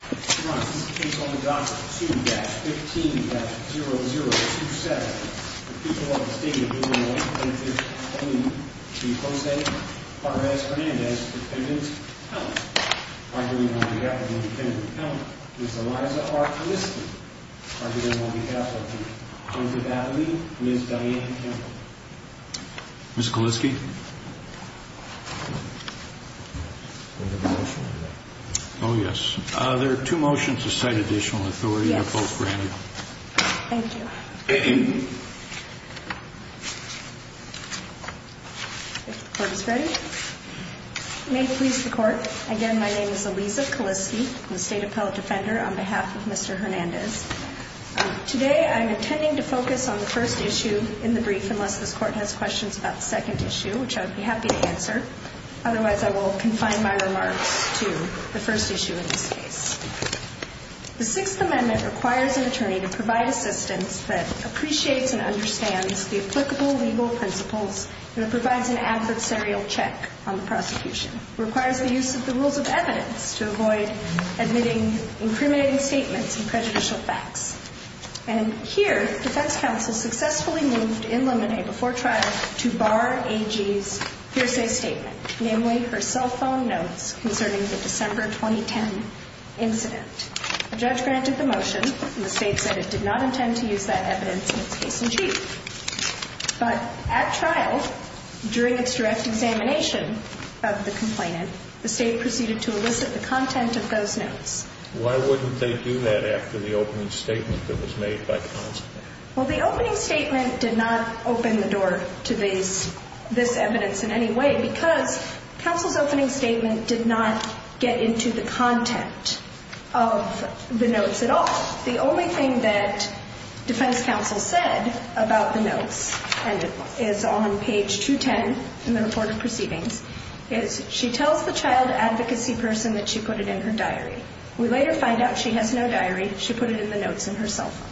2-15-0027. The people of the state of Louisiana are here on behalf of Ms. Eliza R. Kaliski and on behalf of Ms. Diane Campbell. Ms. Kaliski? Oh yes. There are two motions to cite additional authority. Thank you. If the court is ready. May it please the court, again my name is Eliza Kaliski, I'm a state appellate defender on behalf of Mr. Hernandez. Today I'm intending to focus on the first issue in the brief unless this court has questions about the second issue, which I would be happy to answer. Otherwise, I will confine my remarks to the first issue in this case. The Sixth Amendment requires an attorney to provide assistance that appreciates and understands the applicable legal principles and provides an adversarial check on the prosecution. It requires the use of the rules of evidence to avoid admitting incriminating statements and prejudicial facts. And here, the defense counsel successfully moved in limine before trial to bar AG's hearsay statement, namely her cell phone notes concerning the December 2010 incident. The judge granted the motion and the state said it did not intend to use that evidence in its case in chief. But at trial, during its direct examination of the complainant, the state proceeded to elicit the content of those notes. Why wouldn't they do that after the opening statement that was made by counsel? Well, the opening statement did not open the door to this evidence in any way because counsel's opening statement did not get into the content of the notes at all. The only thing that defense counsel said about the notes, and it is on page 210 in the report of proceedings, is she tells the child advocacy person that she put it in her diary. We later find out she has no diary. She put it in the notes in her cell phone.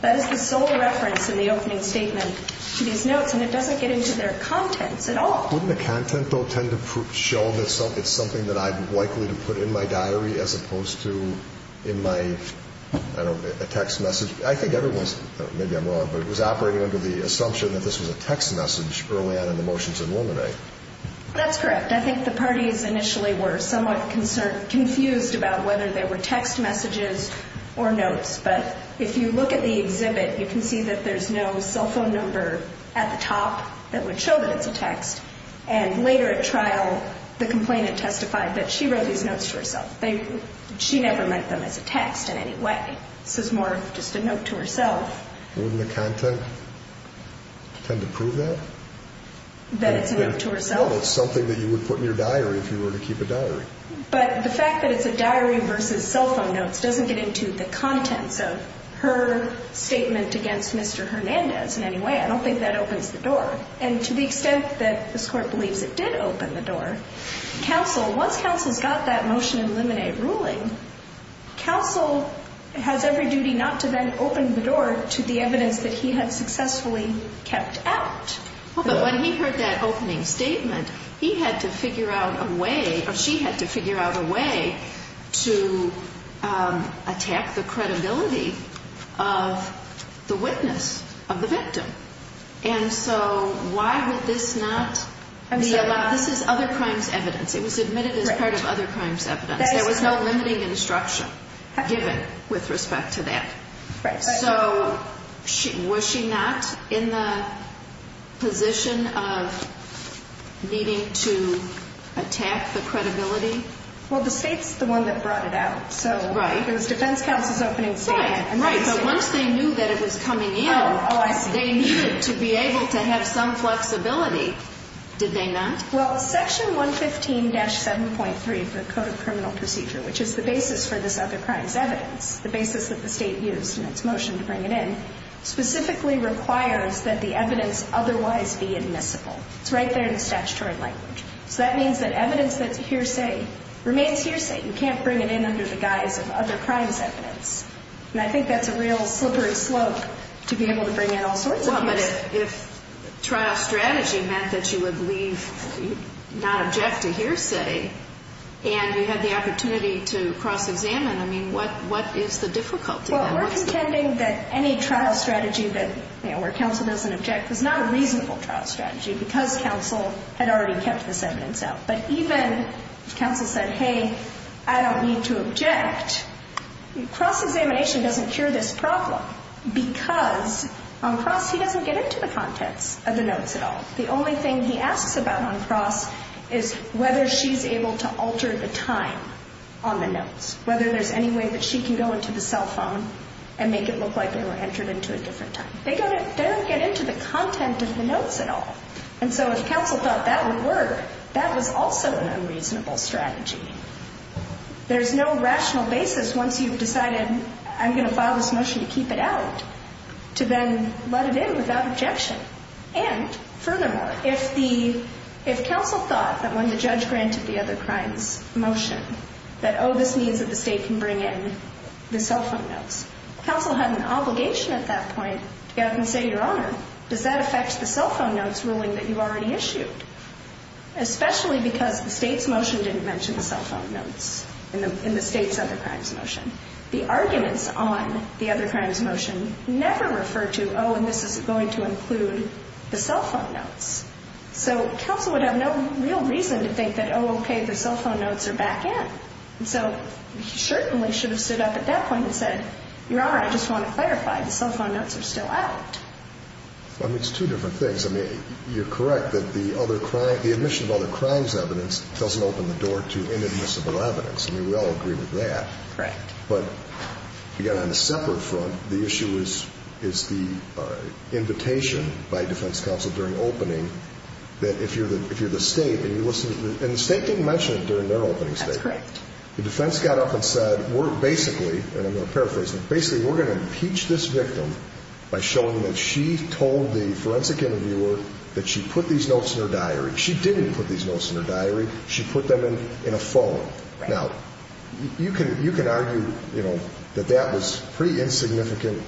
That is the sole reference in the opening statement to these notes, and it doesn't get into their contents at all. Wouldn't the content, though, tend to show that it's something that I'm likely to put in my diary as opposed to in my, I don't know, a text message? I think everyone's, maybe I'm wrong, but it was operating under the assumption that this was a text message early on in the motion to eliminate. That's correct. I think the parties initially were somewhat confused about whether they were text messages or notes. But if you look at the exhibit, you can see that there's no cell phone number at the top that would show that it's a text. And later at trial, the complainant testified that she wrote these notes to herself. She never meant them as a text in any way. This is more just a note to herself. Wouldn't the content tend to prove that? That it's a note to herself. Well, it's something that you would put in your diary if you were to keep a diary. But the fact that it's a diary versus cell phone notes doesn't get into the contents of her statement against Mr. Hernandez in any way. I don't think that opens the door. And to the extent that this Court believes it did open the door, counsel, once counsel's got that motion to eliminate ruling, counsel has every duty not to then open the door to the evidence that he had successfully kept out. But when he heard that opening statement, he had to figure out a way, or she had to figure out a way, to attack the credibility of the witness, of the victim. And so why would this not be allowed? This is other crimes evidence. It was admitted as part of other crimes evidence. There was no limiting instruction given with respect to that. Right. So was she not in the position of needing to attack the credibility? Well, the State's the one that brought it out. Right. So it was defense counsel's opening statement. Right. So once they knew that it was coming in, they needed to be able to have some flexibility. Did they not? Well, Section 115-7.3 of the Code of Criminal Procedure, which is the basis for this other crimes evidence, the basis that the State used in its motion to bring it in, specifically requires that the evidence otherwise be admissible. It's right there in the statutory language. So that means that evidence that's a hearsay remains hearsay. You can't bring it in under the guise of other crimes evidence. And I think that's a real slippery slope to be able to bring in all sorts of evidence. Well, but if trial strategy meant that you would leave, not object to hearsay, and you had the opportunity to cross-examine, I mean, what is the difficulty? Well, we're contending that any trial strategy where counsel doesn't object is not a reasonable trial strategy because counsel had already kept this evidence out. But even if counsel said, hey, I don't need to object, cross-examination doesn't cure this problem because on cross he doesn't get into the contents of the notes at all. The only thing he asks about on cross is whether she's able to alter the time on the notes, whether there's any way that she can go into the cell phone and make it look like they were entered into a different time. They don't get into the content of the notes at all. And so if counsel thought that would work, that was also an unreasonable strategy. There's no rational basis once you've decided I'm going to file this motion to keep it out to then let it in without objection. And furthermore, if counsel thought that when the judge granted the other crimes motion that, oh, this means that the State can bring in the cell phone notes, counsel had an obligation at that point to go out and say, Your Honor, does that affect the cell phone notes ruling that you already issued? Especially because the State's motion didn't mention the cell phone notes in the State's other crimes motion. The arguments on the other crimes motion never referred to, oh, and this is going to include the cell phone notes. So counsel would have no real reason to think that, oh, okay, the cell phone notes are back in. And so he certainly should have stood up at that point and said, Your Honor, I just want to clarify, the cell phone notes are still out. I mean, it's two different things. I mean, you're correct that the other crime, the admission of other crimes evidence doesn't open the door to inadmissible evidence. I mean, we all agree with that. Correct. But, again, on a separate front, the issue is the invitation by defense counsel during opening that if you're the State, and the State didn't mention it during their opening statement. That's correct. The defense got up and said, we're basically, and I'm going to paraphrase, basically we're going to impeach this victim by showing that she told the forensic interviewer that she put these notes in her diary. She didn't put these notes in her diary. She put them in a phone. Now, you can argue, you know, that that was pretty insignificant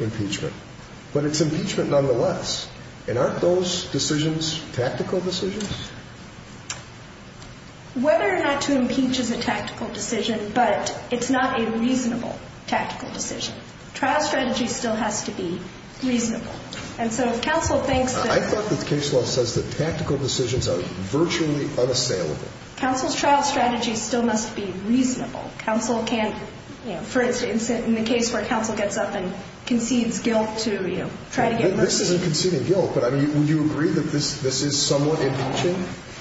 impeachment. But it's impeachment nonetheless. And aren't those decisions tactical decisions? Whether or not to impeach is a tactical decision, but it's not a reasonable tactical decision. Trial strategy still has to be reasonable. And so if counsel thinks that. I thought that the case law says that tactical decisions are virtually unassailable. Counsel's trial strategy still must be reasonable. Counsel can't, you know, for instance, in the case where counsel gets up and concedes guilt to, you know, try to get mercy. This isn't conceding guilt, but, I mean, would you agree that this is somewhat impeaching?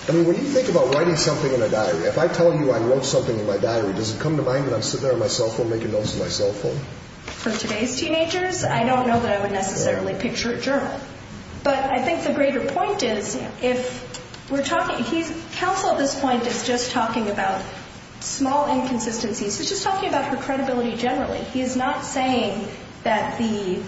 I mean, when you think about writing something in a diary, if I tell you I wrote something in my diary, does it come to mind that I'm sitting there on my cell phone making notes in my cell phone? For today's teenagers, I don't know that I would necessarily picture a journal. But I think the greater point is if we're talking, counsel at this point is just talking about small inconsistencies. He's just talking about her credibility generally. He is not saying that the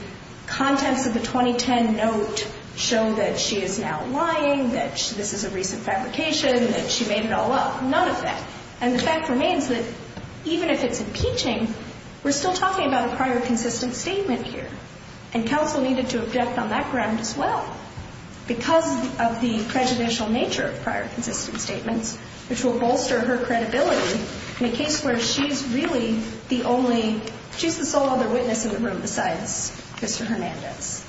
contents of the 2010 note show that she is now lying, that this is a recent fabrication, that she made it all up. None of that. And the fact remains that even if it's impeaching, we're still talking about a prior consistent statement here. And counsel needed to object on that ground as well because of the prejudicial nature of prior consistent statements, which will bolster her credibility in a case where she's really the only, she's the sole other witness in the room besides Mr. Hernandez.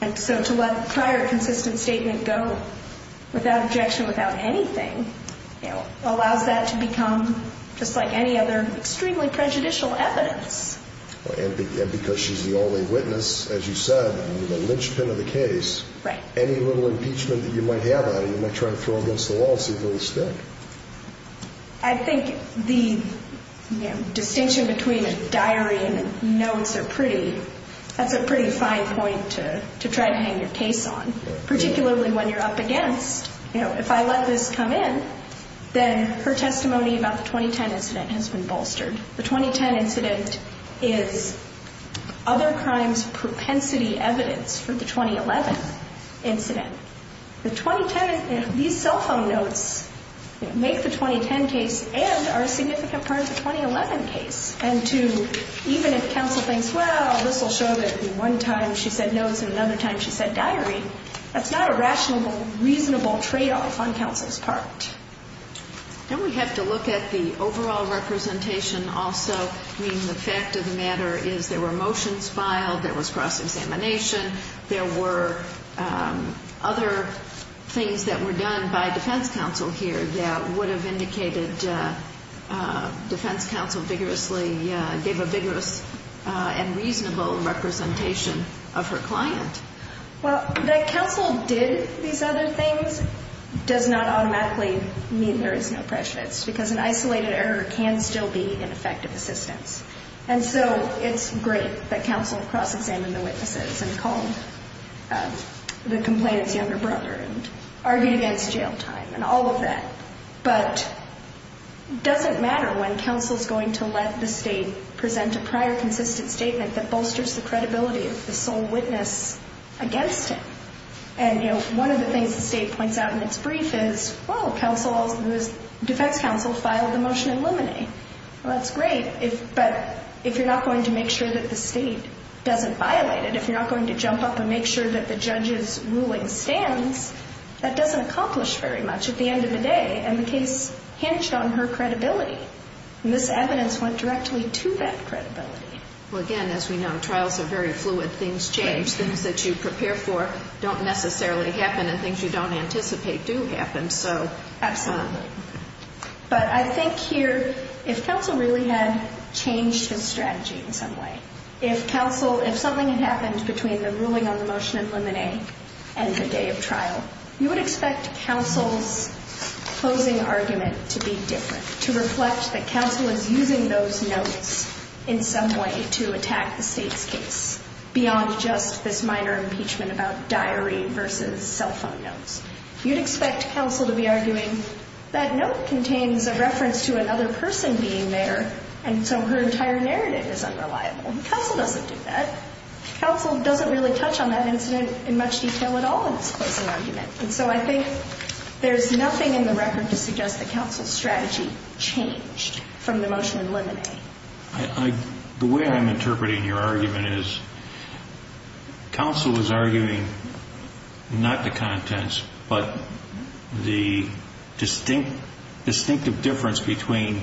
And so to let prior consistent statement go without objection, without anything, allows that to become, just like any other, extremely prejudicial evidence. And because she's the only witness, as you said, the linchpin of the case, any little impeachment that you might have on her, you might try to throw against the wall, see if it will stick. I think the distinction between a diary and notes are pretty, that's a pretty fine point to try to hang your case on. Particularly when you're up against, you know, if I let this come in, then her testimony about the 2010 incident has been bolstered. The 2010 incident is other crimes propensity evidence for the 2011 incident. The 2010, these cell phone notes make the 2010 case and are a significant part of the 2011 case. And to, even if counsel thinks, well, this will show that one time she said notes and another time she said diary, that's not a rational, reasonable tradeoff on counsel's part. And we have to look at the overall representation also. I mean, the fact of the matter is there were motions filed, there was cross-examination, there were other things that were done by defense counsel here that would have indicated defense counsel vigorously, gave a vigorous and reasonable representation of her client. Well, that counsel did these other things does not automatically mean there is no prejudice, because an isolated error can still be an effective assistance. And so it's great that counsel cross-examined the witnesses and called the complainant's younger brother and argued against jail time and all of that. But it doesn't matter when counsel's going to let the State present a prior consistent statement that bolsters the credibility of the sole witness against him. And, you know, one of the things the State points out in its brief is, well, counsel, defense counsel filed the motion in limine. Well, that's great, but if you're not going to make sure that the State doesn't violate it, if you're not going to jump up and make sure that the judge's ruling stands, that doesn't accomplish very much at the end of the day. And the case hinged on her credibility. And this evidence went directly to that credibility. Well, again, as we know, trials are very fluid. Things change. Things that you prepare for don't necessarily happen, and things you don't anticipate do happen. So. Absolutely. But I think here, if counsel really had changed his strategy in some way, if counsel, if something had happened between the ruling on the motion in limine and the day of trial, you would expect counsel's closing argument to be different, to reflect that counsel is using those notes in some way to attack the State's case, beyond just this minor impeachment about diary versus cell phone notes. You'd expect counsel to be arguing that note contains a reference to another person being there, and so her entire narrative is unreliable. Counsel doesn't do that. Counsel doesn't really touch on that incident in much detail at all in its closing argument. And so I think there's nothing in the record to suggest that counsel's strategy changed from the motion in limine. The way I'm interpreting your argument is counsel is arguing not the contents, but the distinct, distinctive difference between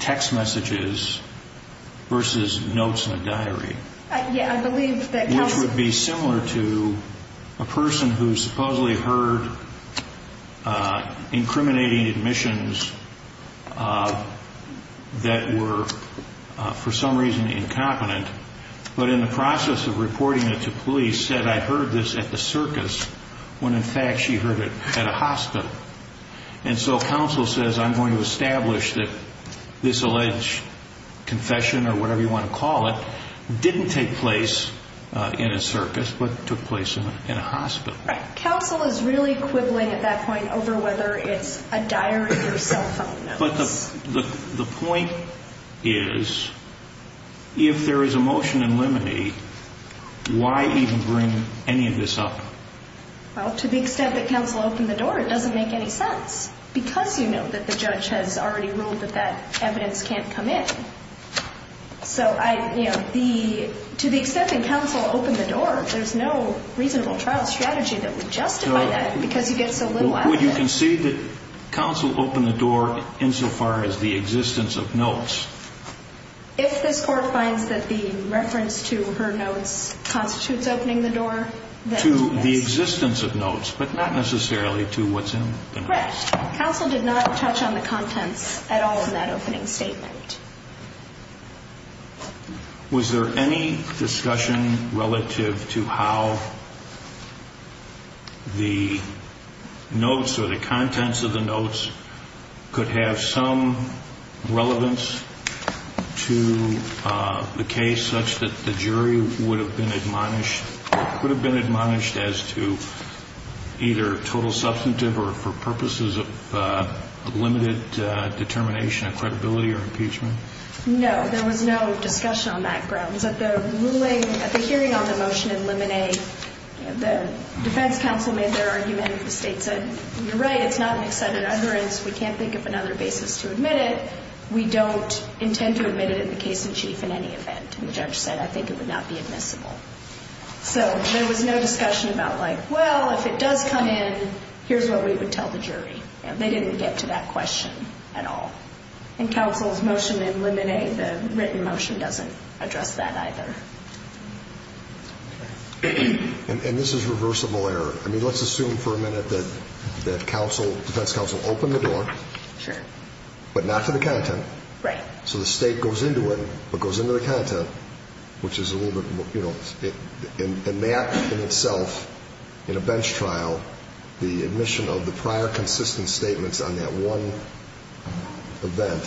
text messages versus notes in a diary. Which would be similar to a person who supposedly heard incriminating admissions that were for some reason incompetent, but in the process of reporting it to police said, I heard this at the circus, when in fact she heard it at a hospital. And so counsel says, I'm going to establish that this alleged confession or whatever you want to call it didn't take place in a circus, but took place in a hospital. Counsel is really quibbling at that point over whether it's a diary or cell phone notes. But the point is, if there is a motion in limine, why even bring any of this up? Well, to the extent that counsel opened the door, it doesn't make any sense, because you know that the judge has already ruled that that evidence can't come in. So to the extent that counsel opened the door, there's no reasonable trial strategy that would justify that, because you get so little out of it. Would you concede that counsel opened the door insofar as the existence of notes? If this Court finds that the reference to her notes constitutes opening the door, then yes. To the existence of notes, but not necessarily to what's in the notes. Correct. Counsel did not touch on the contents at all in that opening statement. Was there any discussion relative to how the notes or the contents of the notes could have some relevance to the case such that the jury would have been admonished or could have been admonished as to either total substantive or for purposes of limited determination of credibility or impeachment? No. There was no discussion on that grounds. At the hearing on the motion in limine, the defense counsel made their argument. The State said, you're right, it's not an extended utterance. We can't think of another basis to admit it. We don't intend to admit it in the case in chief in any event. The judge said, I think it would not be admissible. So there was no discussion about like, well, if it does come in, here's what we would tell the jury. They didn't get to that question at all. In counsel's motion in limine, the written motion doesn't address that either. And this is reversible error. I mean, let's assume for a minute that counsel, defense counsel, opened the door. Sure. But not to the content. Right. So the State goes into it, but goes into the content, which is a little bit more, you know, in that in itself, in a bench trial, the admission of the prior consistent statements on that one event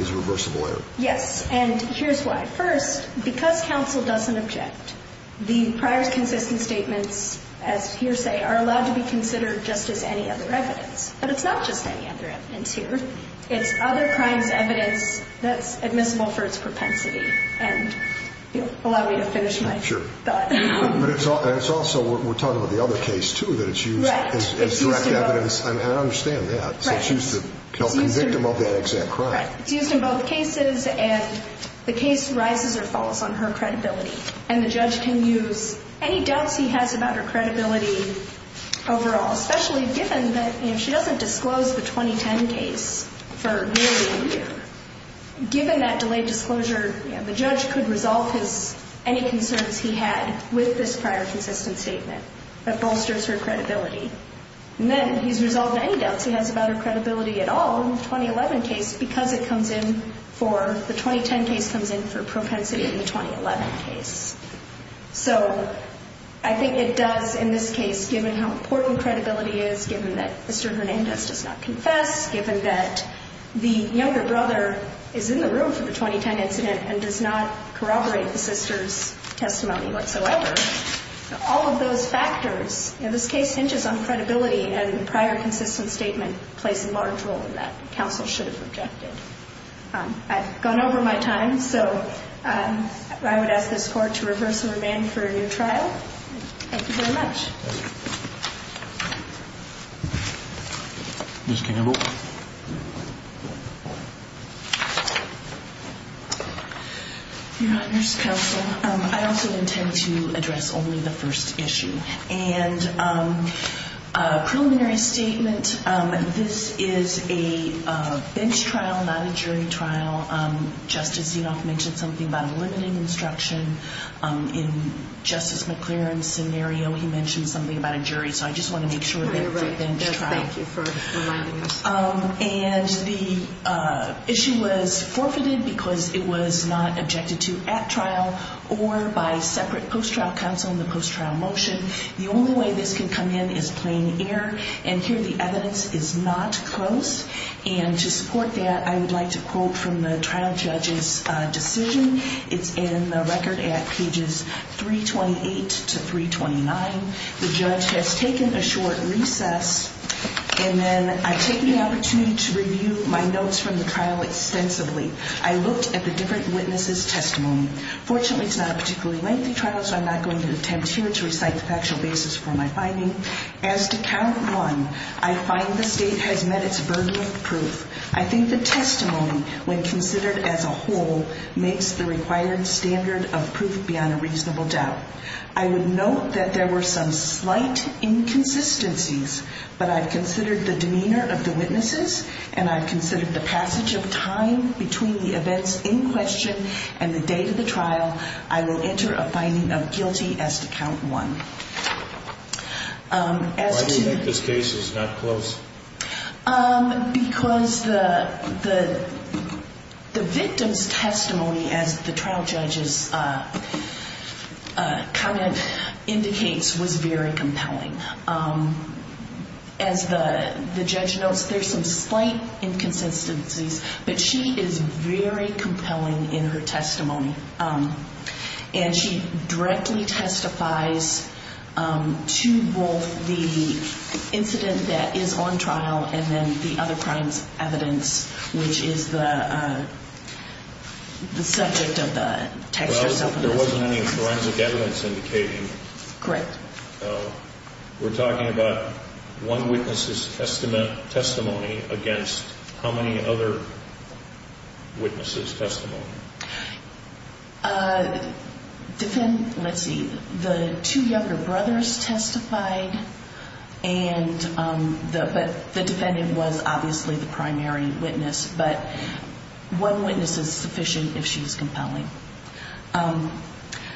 is reversible error. Yes. And here's why. First, because counsel doesn't object, the prior consistent statements, as you say, are allowed to be considered just as any other evidence. But it's not just any other evidence here. It's other crimes evidence that's admissible for its propensity. And allow me to finish my thought. Sure. But it's also, we're talking about the other case, too, that it's used as direct evidence. Right. I understand that. Right. So it's used to help the victim of that exact crime. Right. It's used in both cases, and the case rises or falls on her credibility. And the judge can use any doubts he has about her credibility overall, especially given that, you know, if she doesn't disclose the 2010 case for nearly a year, given that delayed disclosure, you know, the judge could resolve any concerns he had with this prior consistent statement. That bolsters her credibility. And then he's resolved any doubts he has about her credibility at all in the 2011 case because it comes in for, the 2010 case comes in for propensity in the 2011 case. So I think it does in this case, given how important credibility is, given that Mr. Hernandez does not confess, given that the younger brother is in the room for the 2010 incident and does not corroborate the sister's testimony whatsoever. All of those factors in this case hinges on credibility, and the prior consistent statement plays a large role in that. Counsel should have rejected. I've gone over my time. So I would ask this court to reverse the remand for your trial. Thank you very much. Thank you. Ms. Campbell. Your Honors Counsel, I also intend to address only the first issue. And preliminary statement, this is a bench trial, not a jury trial. Justice Zinoff mentioned something about a limiting instruction. In Justice McClaren's scenario, he mentioned something about a jury. So I just want to make sure that it's a bench trial. Thank you for reminding us. And the issue was forfeited because it was not objected to at trial or by separate post-trial counsel in the post-trial motion. The only way this can come in is plain air. And here the evidence is not close. And to support that, I would like to quote from the trial judge's decision. It's in the record at pages 328 to 329. The judge has taken a short recess, and then I've taken the opportunity to review my notes from the trial extensively. I looked at the different witnesses' testimony. Fortunately, it's not a particularly lengthy trial, so I'm not going to attempt here to recite the factual basis for my finding. As to count one, I find the state has met its burden of proof. I think the testimony, when considered as a whole, makes the required standard of proof beyond a reasonable doubt. I would note that there were some slight inconsistencies, but I've considered the demeanor of the witnesses and I've considered the passage of time between the events in question and the date of the trial. I will enter a finding of guilty as to count one. Why do you think this case is not close? Because the victim's testimony, as the trial judge's comment indicates, was very compelling. As the judge notes, there's some slight inconsistencies, but she is very compelling in her testimony, and she directly testifies to both the incident that is on trial and then the other crime's evidence, which is the subject of the textual self-investigation. There wasn't any forensic evidence indicating. Correct. We're talking about one witness's testimony against how many other witnesses' testimony? Let's see. The two younger brothers testified, but the defendant was obviously the primary witness. But one witness is sufficient if she was compelling.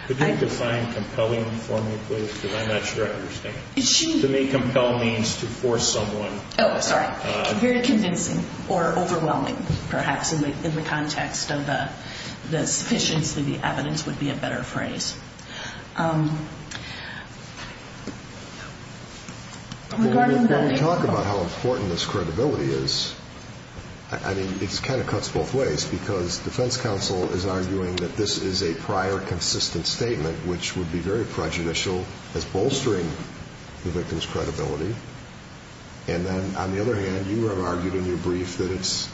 Could you define compelling for me, please, because I'm not sure I understand. To me, compel means to force someone. Oh, sorry. Very convincing or overwhelming, perhaps, in the context of the sufficiency of the evidence would be a better phrase. When we talk about how important this credibility is, I mean, it kind of cuts both ways, because defense counsel is arguing that this is a prior consistent statement, which would be very prejudicial as bolstering the victim's credibility. And then, on the other hand, you have argued in your brief that it's,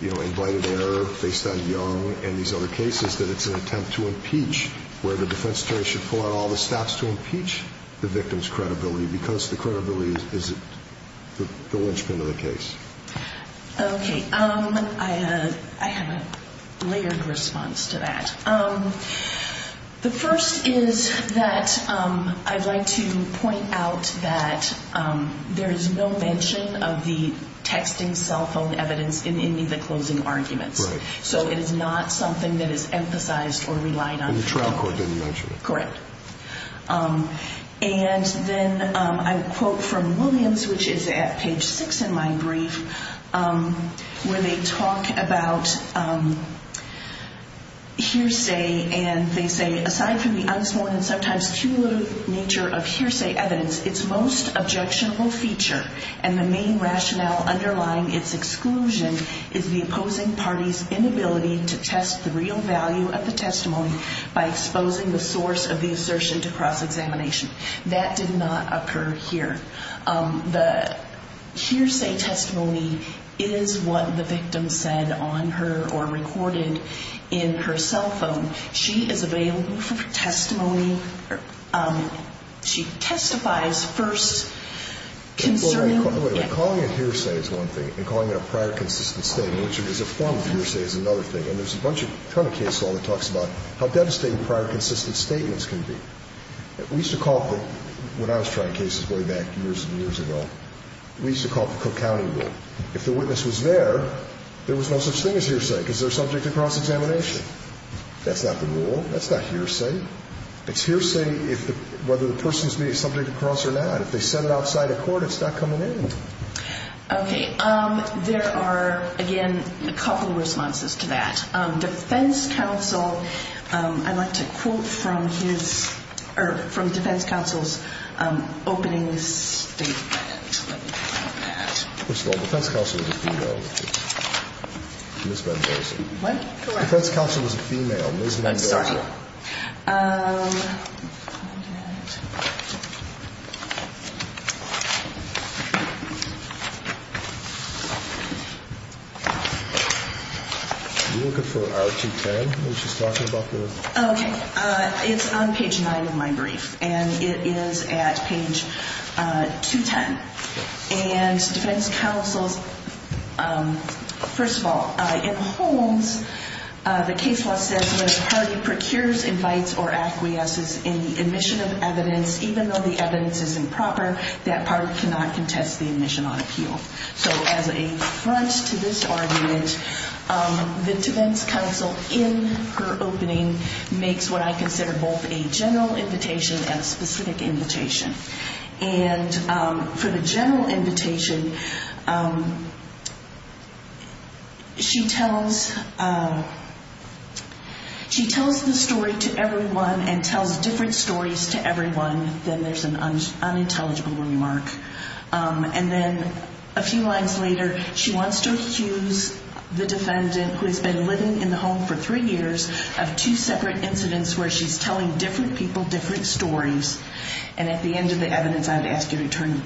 you know, invited error based on Young and these other cases, that it's an attempt to impeach, where the defense attorney should pull out all the stops to impeach the victim's credibility because the credibility is the linchpin of the case. Okay. I have a layered response to that. The first is that I'd like to point out that there is no mention of the texting cell phone evidence in any of the closing arguments. Right. So it is not something that is emphasized or relied on. And the trial court didn't mention it. Correct. And then I have a quote from Williams, which is at page 6 in my brief, where they talk about hearsay and they say, aside from the unspoken and sometimes cumulative nature of hearsay evidence, its most objectionable feature and the main rationale underlying its exclusion is the opposing party's inability to test the real value of the testimony by exposing the source of the assertion to cross-examination. That did not occur here. The hearsay testimony is what the victim said on her or recorded in her cell phone. She is available for testimony. She testifies first concerning. Wait a minute. Calling it hearsay is one thing and calling it a prior consistent statement, which is a form of hearsay, is another thing. And there's a bunch of, a ton of case law that talks about how devastating prior consistent statements can be. We used to call it, when I was trying cases way back years and years ago, we used to call it the Cook County rule. If the witness was there, there was no such thing as hearsay because they're subject to cross-examination. That's not the rule. That's not hearsay. It's hearsay whether the person is being subject to cross or not. If they said it outside of court, it's not coming in. Okay. There are, again, a couple responses to that. Defense counsel, I'd like to quote from his, or from defense counsel's opening statement. Let me find that. First of all, defense counsel is a female. Ms. Van Dorsen. What? Correct. Ms. Van Dorsen. I'm sorry. Let me find that. We're looking for R210, which is talking about the... Okay. It's on page 9 of my brief, and it is at page 210. And defense counsel's, first of all, in Holmes, the case law says when a party procures, invites, or acquiesces in the admission of evidence, even though the evidence is improper, that party cannot contest the admission on appeal. So as a front to this argument, the defense counsel, in her opening, makes what I consider both a general invitation and a specific invitation. And for the general invitation, she tells the story to everyone and tells different stories to everyone. Then there's an unintelligible remark. And then a few lines later, she wants to accuse the defendant, who has been living in the home for three years, of two separate incidents where she's telling different people different stories. And at the end of the evidence, I would ask you to return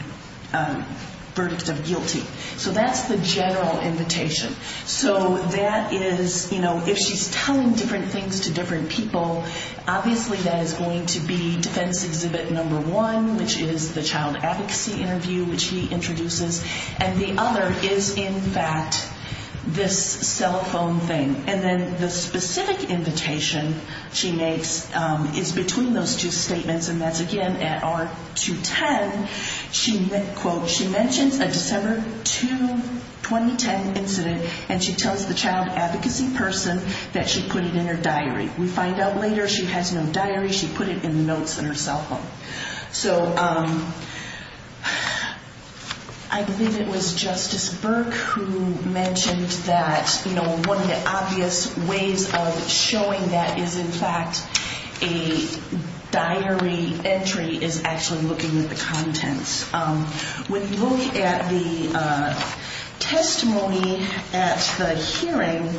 verdict of guilty. So that's the general invitation. So that is, you know, if she's telling different things to different people, obviously that is going to be defense exhibit number one, which is the child advocacy interview, which he introduces. And the other is, in fact, this cell phone thing. And then the specific invitation she makes is between those two statements, and that's, again, at R210. She mentions a December 2, 2010 incident, and she tells the child advocacy person that she put it in her diary. We find out later she has no diary. She put it in the notes in her cell phone. So I believe it was Justice Burke who mentioned that, you know, the obvious ways of showing that is, in fact, a diary entry is actually looking at the contents. When you look at the testimony at the hearing,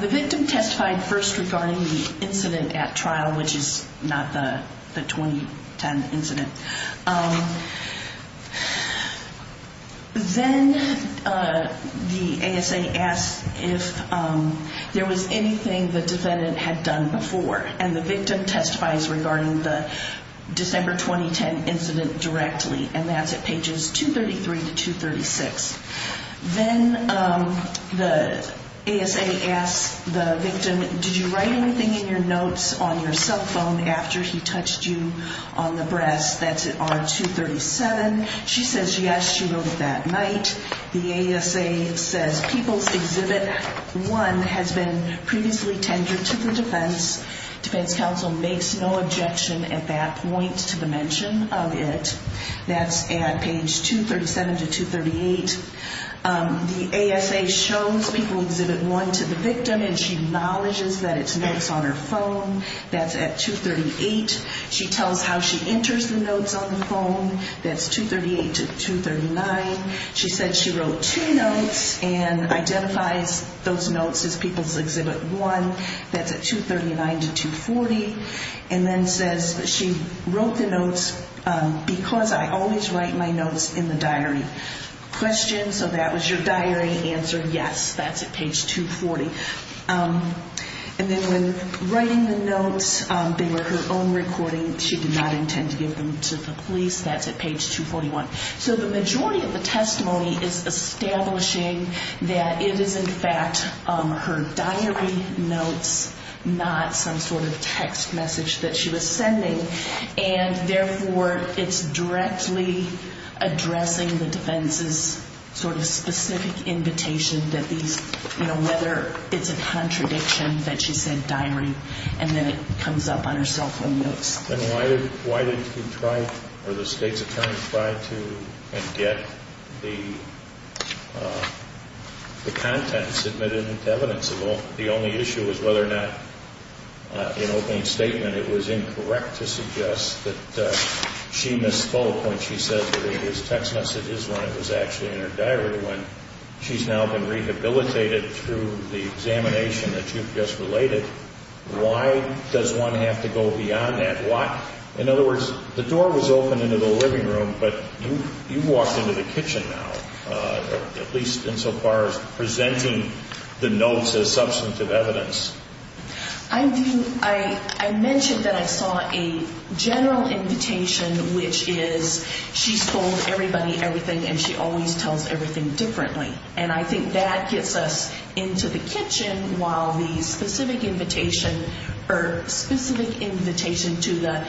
the victim testified first regarding the incident at trial, which is not the 2010 incident. Then the ASA asks if there was anything the defendant had done before, and the victim testifies regarding the December 2010 incident directly, and that's at pages 233 to 236. Then the ASA asks the victim, did you write anything in your notes on your cell phone after he touched you on the breast? That's at R237. She says yes, she wrote it that night. The ASA says People's Exhibit 1 has been previously tendered to the defense. Defense counsel makes no objection at that point to the mention of it. That's at page 237 to 238. The ASA shows People's Exhibit 1 to the victim, and she acknowledges that it's notes on her phone. That's at 238. She tells how she enters the notes on the phone. That's 238 to 239. She said she wrote two notes and identifies those notes as People's Exhibit 1. That's at 239 to 240. And then says she wrote the notes because I always write my notes in the diary. Question, so that was your diary. Answer, yes, that's at page 240. And then when writing the notes, they were her own recording. She did not intend to give them to the police. That's at page 241. Her diary notes, not some sort of text message that she was sending, and therefore it's directly addressing the defense's sort of specific invitation that these, you know, whether it's a contradiction that she said diary, and then it comes up on her cell phone notes. Then why did you try, or the state's attorney, try to get the content submitted into evidence? The only issue was whether or not in opening statement it was incorrect to suggest that she misspoke when she said that it was text messages when it was actually in her diary, when she's now been rehabilitated through the examination that you've just related. Why does one have to go beyond that? In other words, the door was open into the living room, but you walked into the kitchen now, at least insofar as presenting the notes as substantive evidence. I do. I mentioned that I saw a general invitation, which is she's told everybody everything, and she always tells everything differently. And I think that gets us into the kitchen, while the specific invitation to the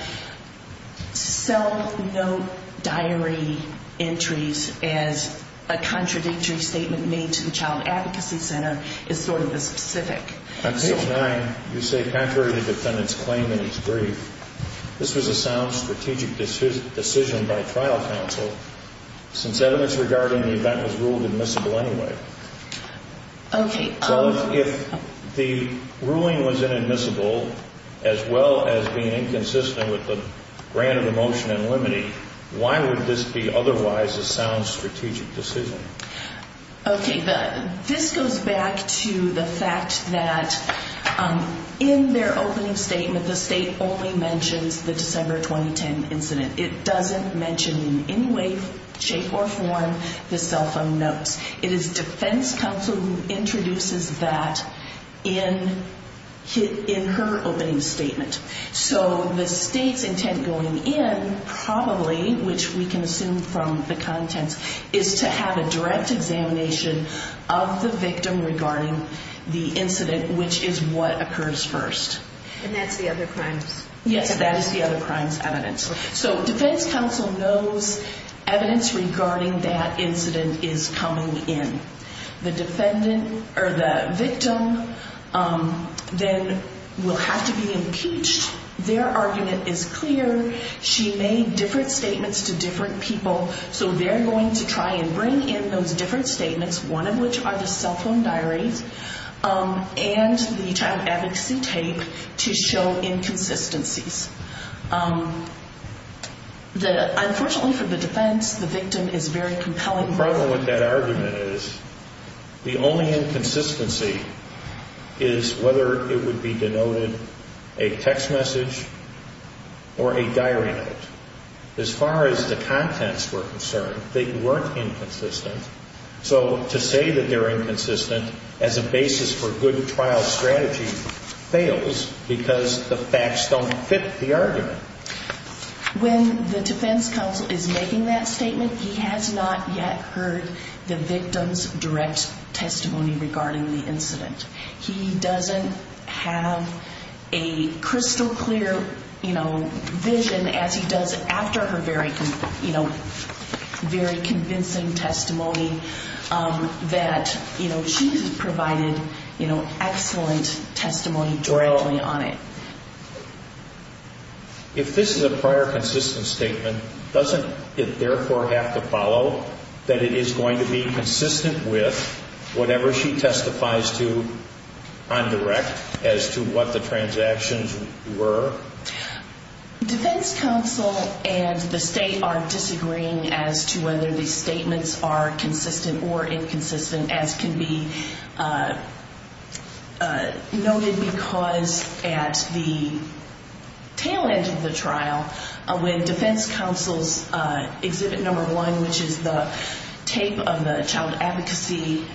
cell note diary entries as a contradictory statement made to the Child Advocacy Center is sort of the specific. On page 9, you say contrary to the defendant's claim in his brief, this was a sound strategic decision by trial counsel. Since evidence regarding the event was ruled admissible anyway. Okay. So if the ruling was inadmissible, as well as being inconsistent with the grant of the motion in limine, why would this be otherwise a sound strategic decision? Okay. This goes back to the fact that in their opening statement, the State only mentions the December 2010 incident. It doesn't mention in any way, shape, or form the cell phone notes. It is defense counsel who introduces that in her opening statement. So the State's intent going in probably, which we can assume from the contents, is to have a direct examination of the victim regarding the incident, which is what occurs first. And that's the other crimes? Yes, that is the other crimes evidence. So defense counsel knows evidence regarding that incident is coming in. The victim then will have to be impeached. Their argument is clear. She made different statements to different people. So they're going to try and bring in those different statements, one of which are the cell phone diaries and the child advocacy tape to show inconsistencies. Unfortunately for the defense, the victim is very compelling. The problem with that argument is the only inconsistency is whether it would be denoted a text message or a diary note. As far as the contents were concerned, they weren't inconsistent. So to say that they're inconsistent as a basis for good trial strategy fails because the facts don't fit the argument. When the defense counsel is making that statement, he has not yet heard the victim's direct testimony regarding the incident. He doesn't have a crystal clear vision as he does after her very convincing testimony that she provided excellent testimony directly on it. If this is a prior consistent statement, doesn't it therefore have to follow that it is going to be consistent with whatever she testifies to on direct as to what the transactions were? Defense counsel and the state are disagreeing as to whether these statements are consistent or inconsistent, as can be noted because at the tail end of the trial, when defense counsel's exhibit number one, which is the tape of the child advocacy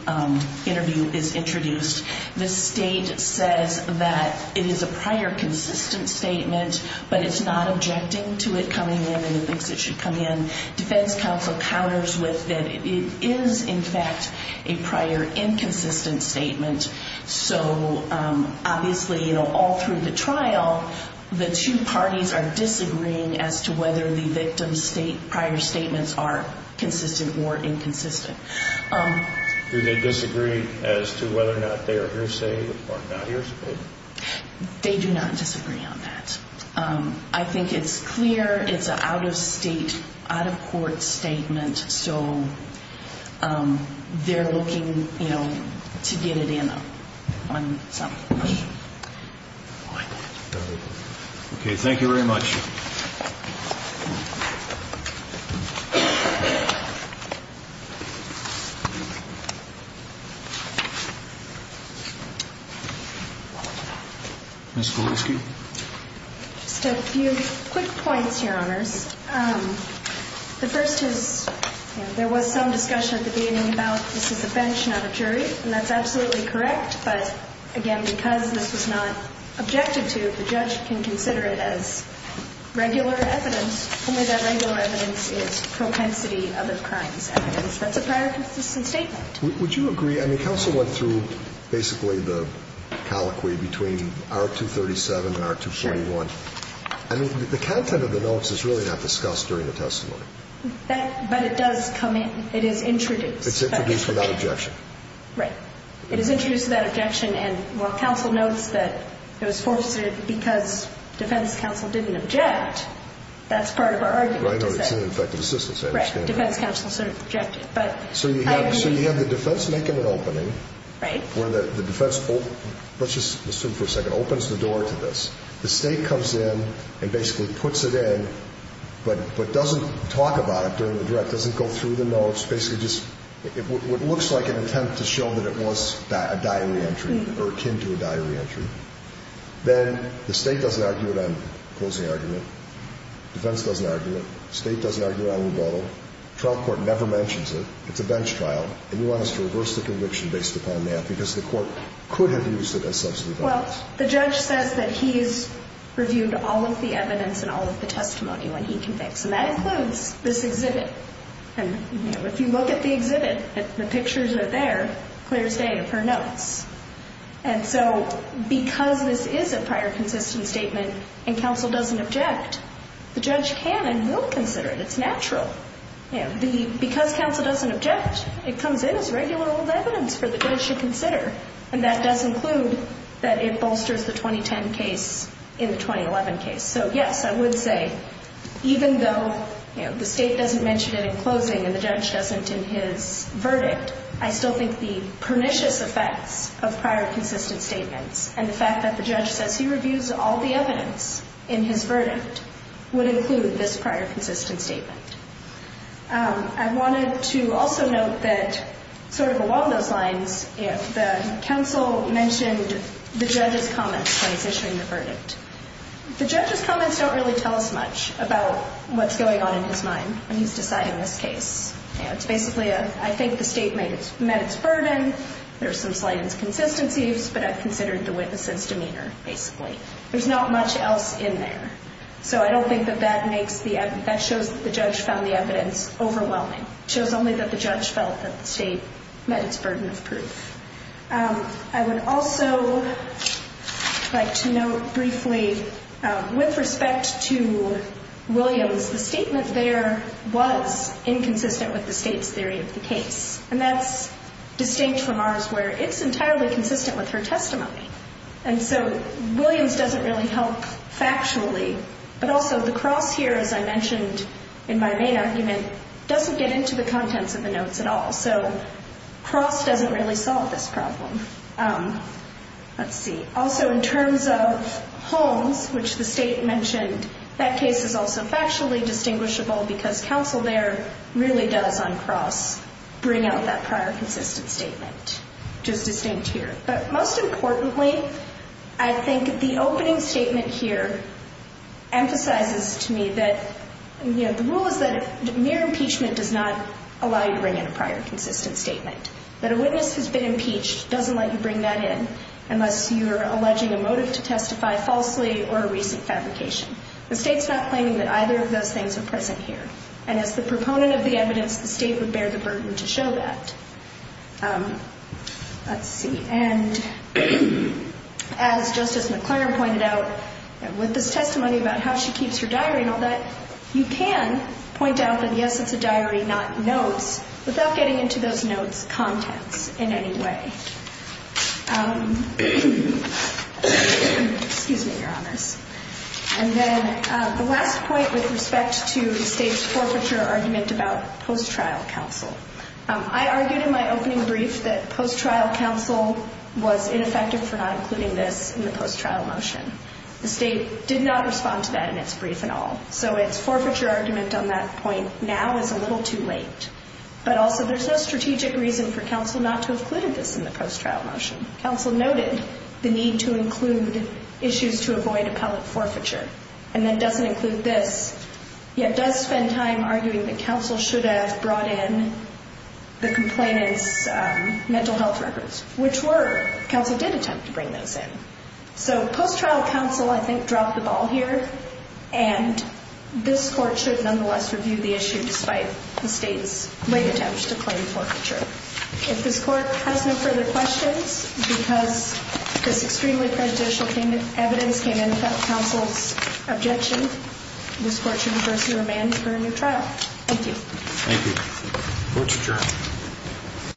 interview is introduced, the state says that it is a prior consistent statement, but it's not objecting to it coming in and it thinks it should come in. Defense counsel counters with that it is in fact a prior inconsistent statement. Obviously, all through the trial, the two parties are disagreeing as to whether the victim's prior statements are consistent or inconsistent. Do they disagree as to whether or not they are hearsay or not hearsay? They do not disagree on that. I think it's clear it's an out-of-state, out-of-court statement, so they're looking to get it in on some. Okay, thank you very much. Ms. Kowalski? Just a few quick points, Your Honors. The first is there was some discussion at the beginning about this is a bench, not a jury, and that's absolutely correct, but again, because this was not objected to, the judge can consider it as a bench, not a jury. The evidence is not prior consistent statement. It's just regular evidence, only that regular evidence is propensity of the crimes evidence. That's a prior consistent statement. Would you agree? I mean, counsel went through basically the colloquy between R237 and R241. I mean, the content of the notes is really not discussed during the testimony. But it does come in. It is introduced. It's introduced without objection. Right. It is introduced without objection, and while counsel notes that it was forced because defense counsel didn't object, that's part of our argument. Right, or it's ineffective assistance, I understand that. Right, defense counsel sort of objected. So you have the defense making an opening, where the defense opens the door to this. The state comes in and basically puts it in, but doesn't talk about it during the direct, doesn't go through the notes, basically just what looks like an attempt to show that it was a diary entry or akin to a diary entry. Then the state doesn't argue it on closing argument. Defense doesn't argue it. State doesn't argue it on rebuttal. Trial court never mentions it. It's a bench trial, and you want us to reverse the conviction based upon that, because the court could have used it as substantive evidence. Well, the judge says that he's reviewed all of the evidence and all of the testimony when he convicts, and that includes this exhibit. And, you know, if you look at the exhibit, the pictures are there, Claire's data, her notes. And so because this is a prior consistent statement and counsel doesn't object, the judge can and will consider it. It's natural. Because counsel doesn't object, it comes in as regular old evidence for the judge to consider, and that does include that it bolsters the 2010 case in the 2011 case. So, yes, I would say even though, you know, the state doesn't mention it in closing and the judge doesn't in his verdict, I still think the pernicious effects of prior consistent statements and the fact that the judge says he reviews all the evidence in his verdict would include this prior consistent statement. I wanted to also note that sort of along those lines, you know, the counsel mentioned the judge's comments when he's issuing the verdict. The judge's comments don't really tell us much about what's going on in his mind when he's deciding this case. You know, it's basically a, I think the state met its burden, there's some slight inconsistencies, but I've considered the witness's demeanor, basically. There's not much else in there. So I don't think that that makes the evidence, that shows that the judge found the evidence overwhelming. It shows only that the judge felt that the state met its burden of proof. I would also like to note briefly with respect to Williams, the statement there was inconsistent with the state's theory of the case, and that's distinct from ours where it's entirely consistent with her testimony. And so Williams doesn't really help factually. But also the cross here, as I mentioned in my main argument, doesn't get into the contents of the notes at all. So cross doesn't really solve this problem. Let's see. Also in terms of Holmes, which the state mentioned, that case is also factually distinguishable because counsel there really does on cross bring out that prior consistent statement, which is distinct here. But most importantly, I think the opening statement here emphasizes to me that, you know, the rule is that mere impeachment does not allow you to bring in a prior consistent statement. That a witness who's been impeached doesn't let you bring that in unless you're alleging a motive to testify falsely or a recent fabrication. The state's not claiming that either of those things are present here. And as the proponent of the evidence, the state would bear the burden to show that. Let's see. And as Justice McClaren pointed out, with this testimony about how she keeps her diary and all that, you can point out that, yes, it's a diary, not notes, without getting into those notes' contents in any way. Excuse me, Your Honors. And then the last point with respect to the state's forfeiture argument about post-trial counsel. I argued in my opening brief that post-trial counsel was ineffective for not including this in the post-trial motion. The state did not respond to that in its brief at all. So its forfeiture argument on that point now is a little too late. But also there's no strategic reason for counsel not to have included this in the post-trial motion. Counsel noted the need to include issues to avoid appellate forfeiture. And that doesn't include this, yet does spend time arguing that counsel should have brought in the complainant's mental health records, which were, counsel did attempt to bring those in. So post-trial counsel, I think, dropped the ball here. And this Court should nonetheless review the issue despite the state's late attempts to claim forfeiture. If this Court has no further questions, because this extremely prejudicial evidence came in without counsel's objection, this Court should reverse the remand for a new trial. Thank you. Thank you. Court is adjourned.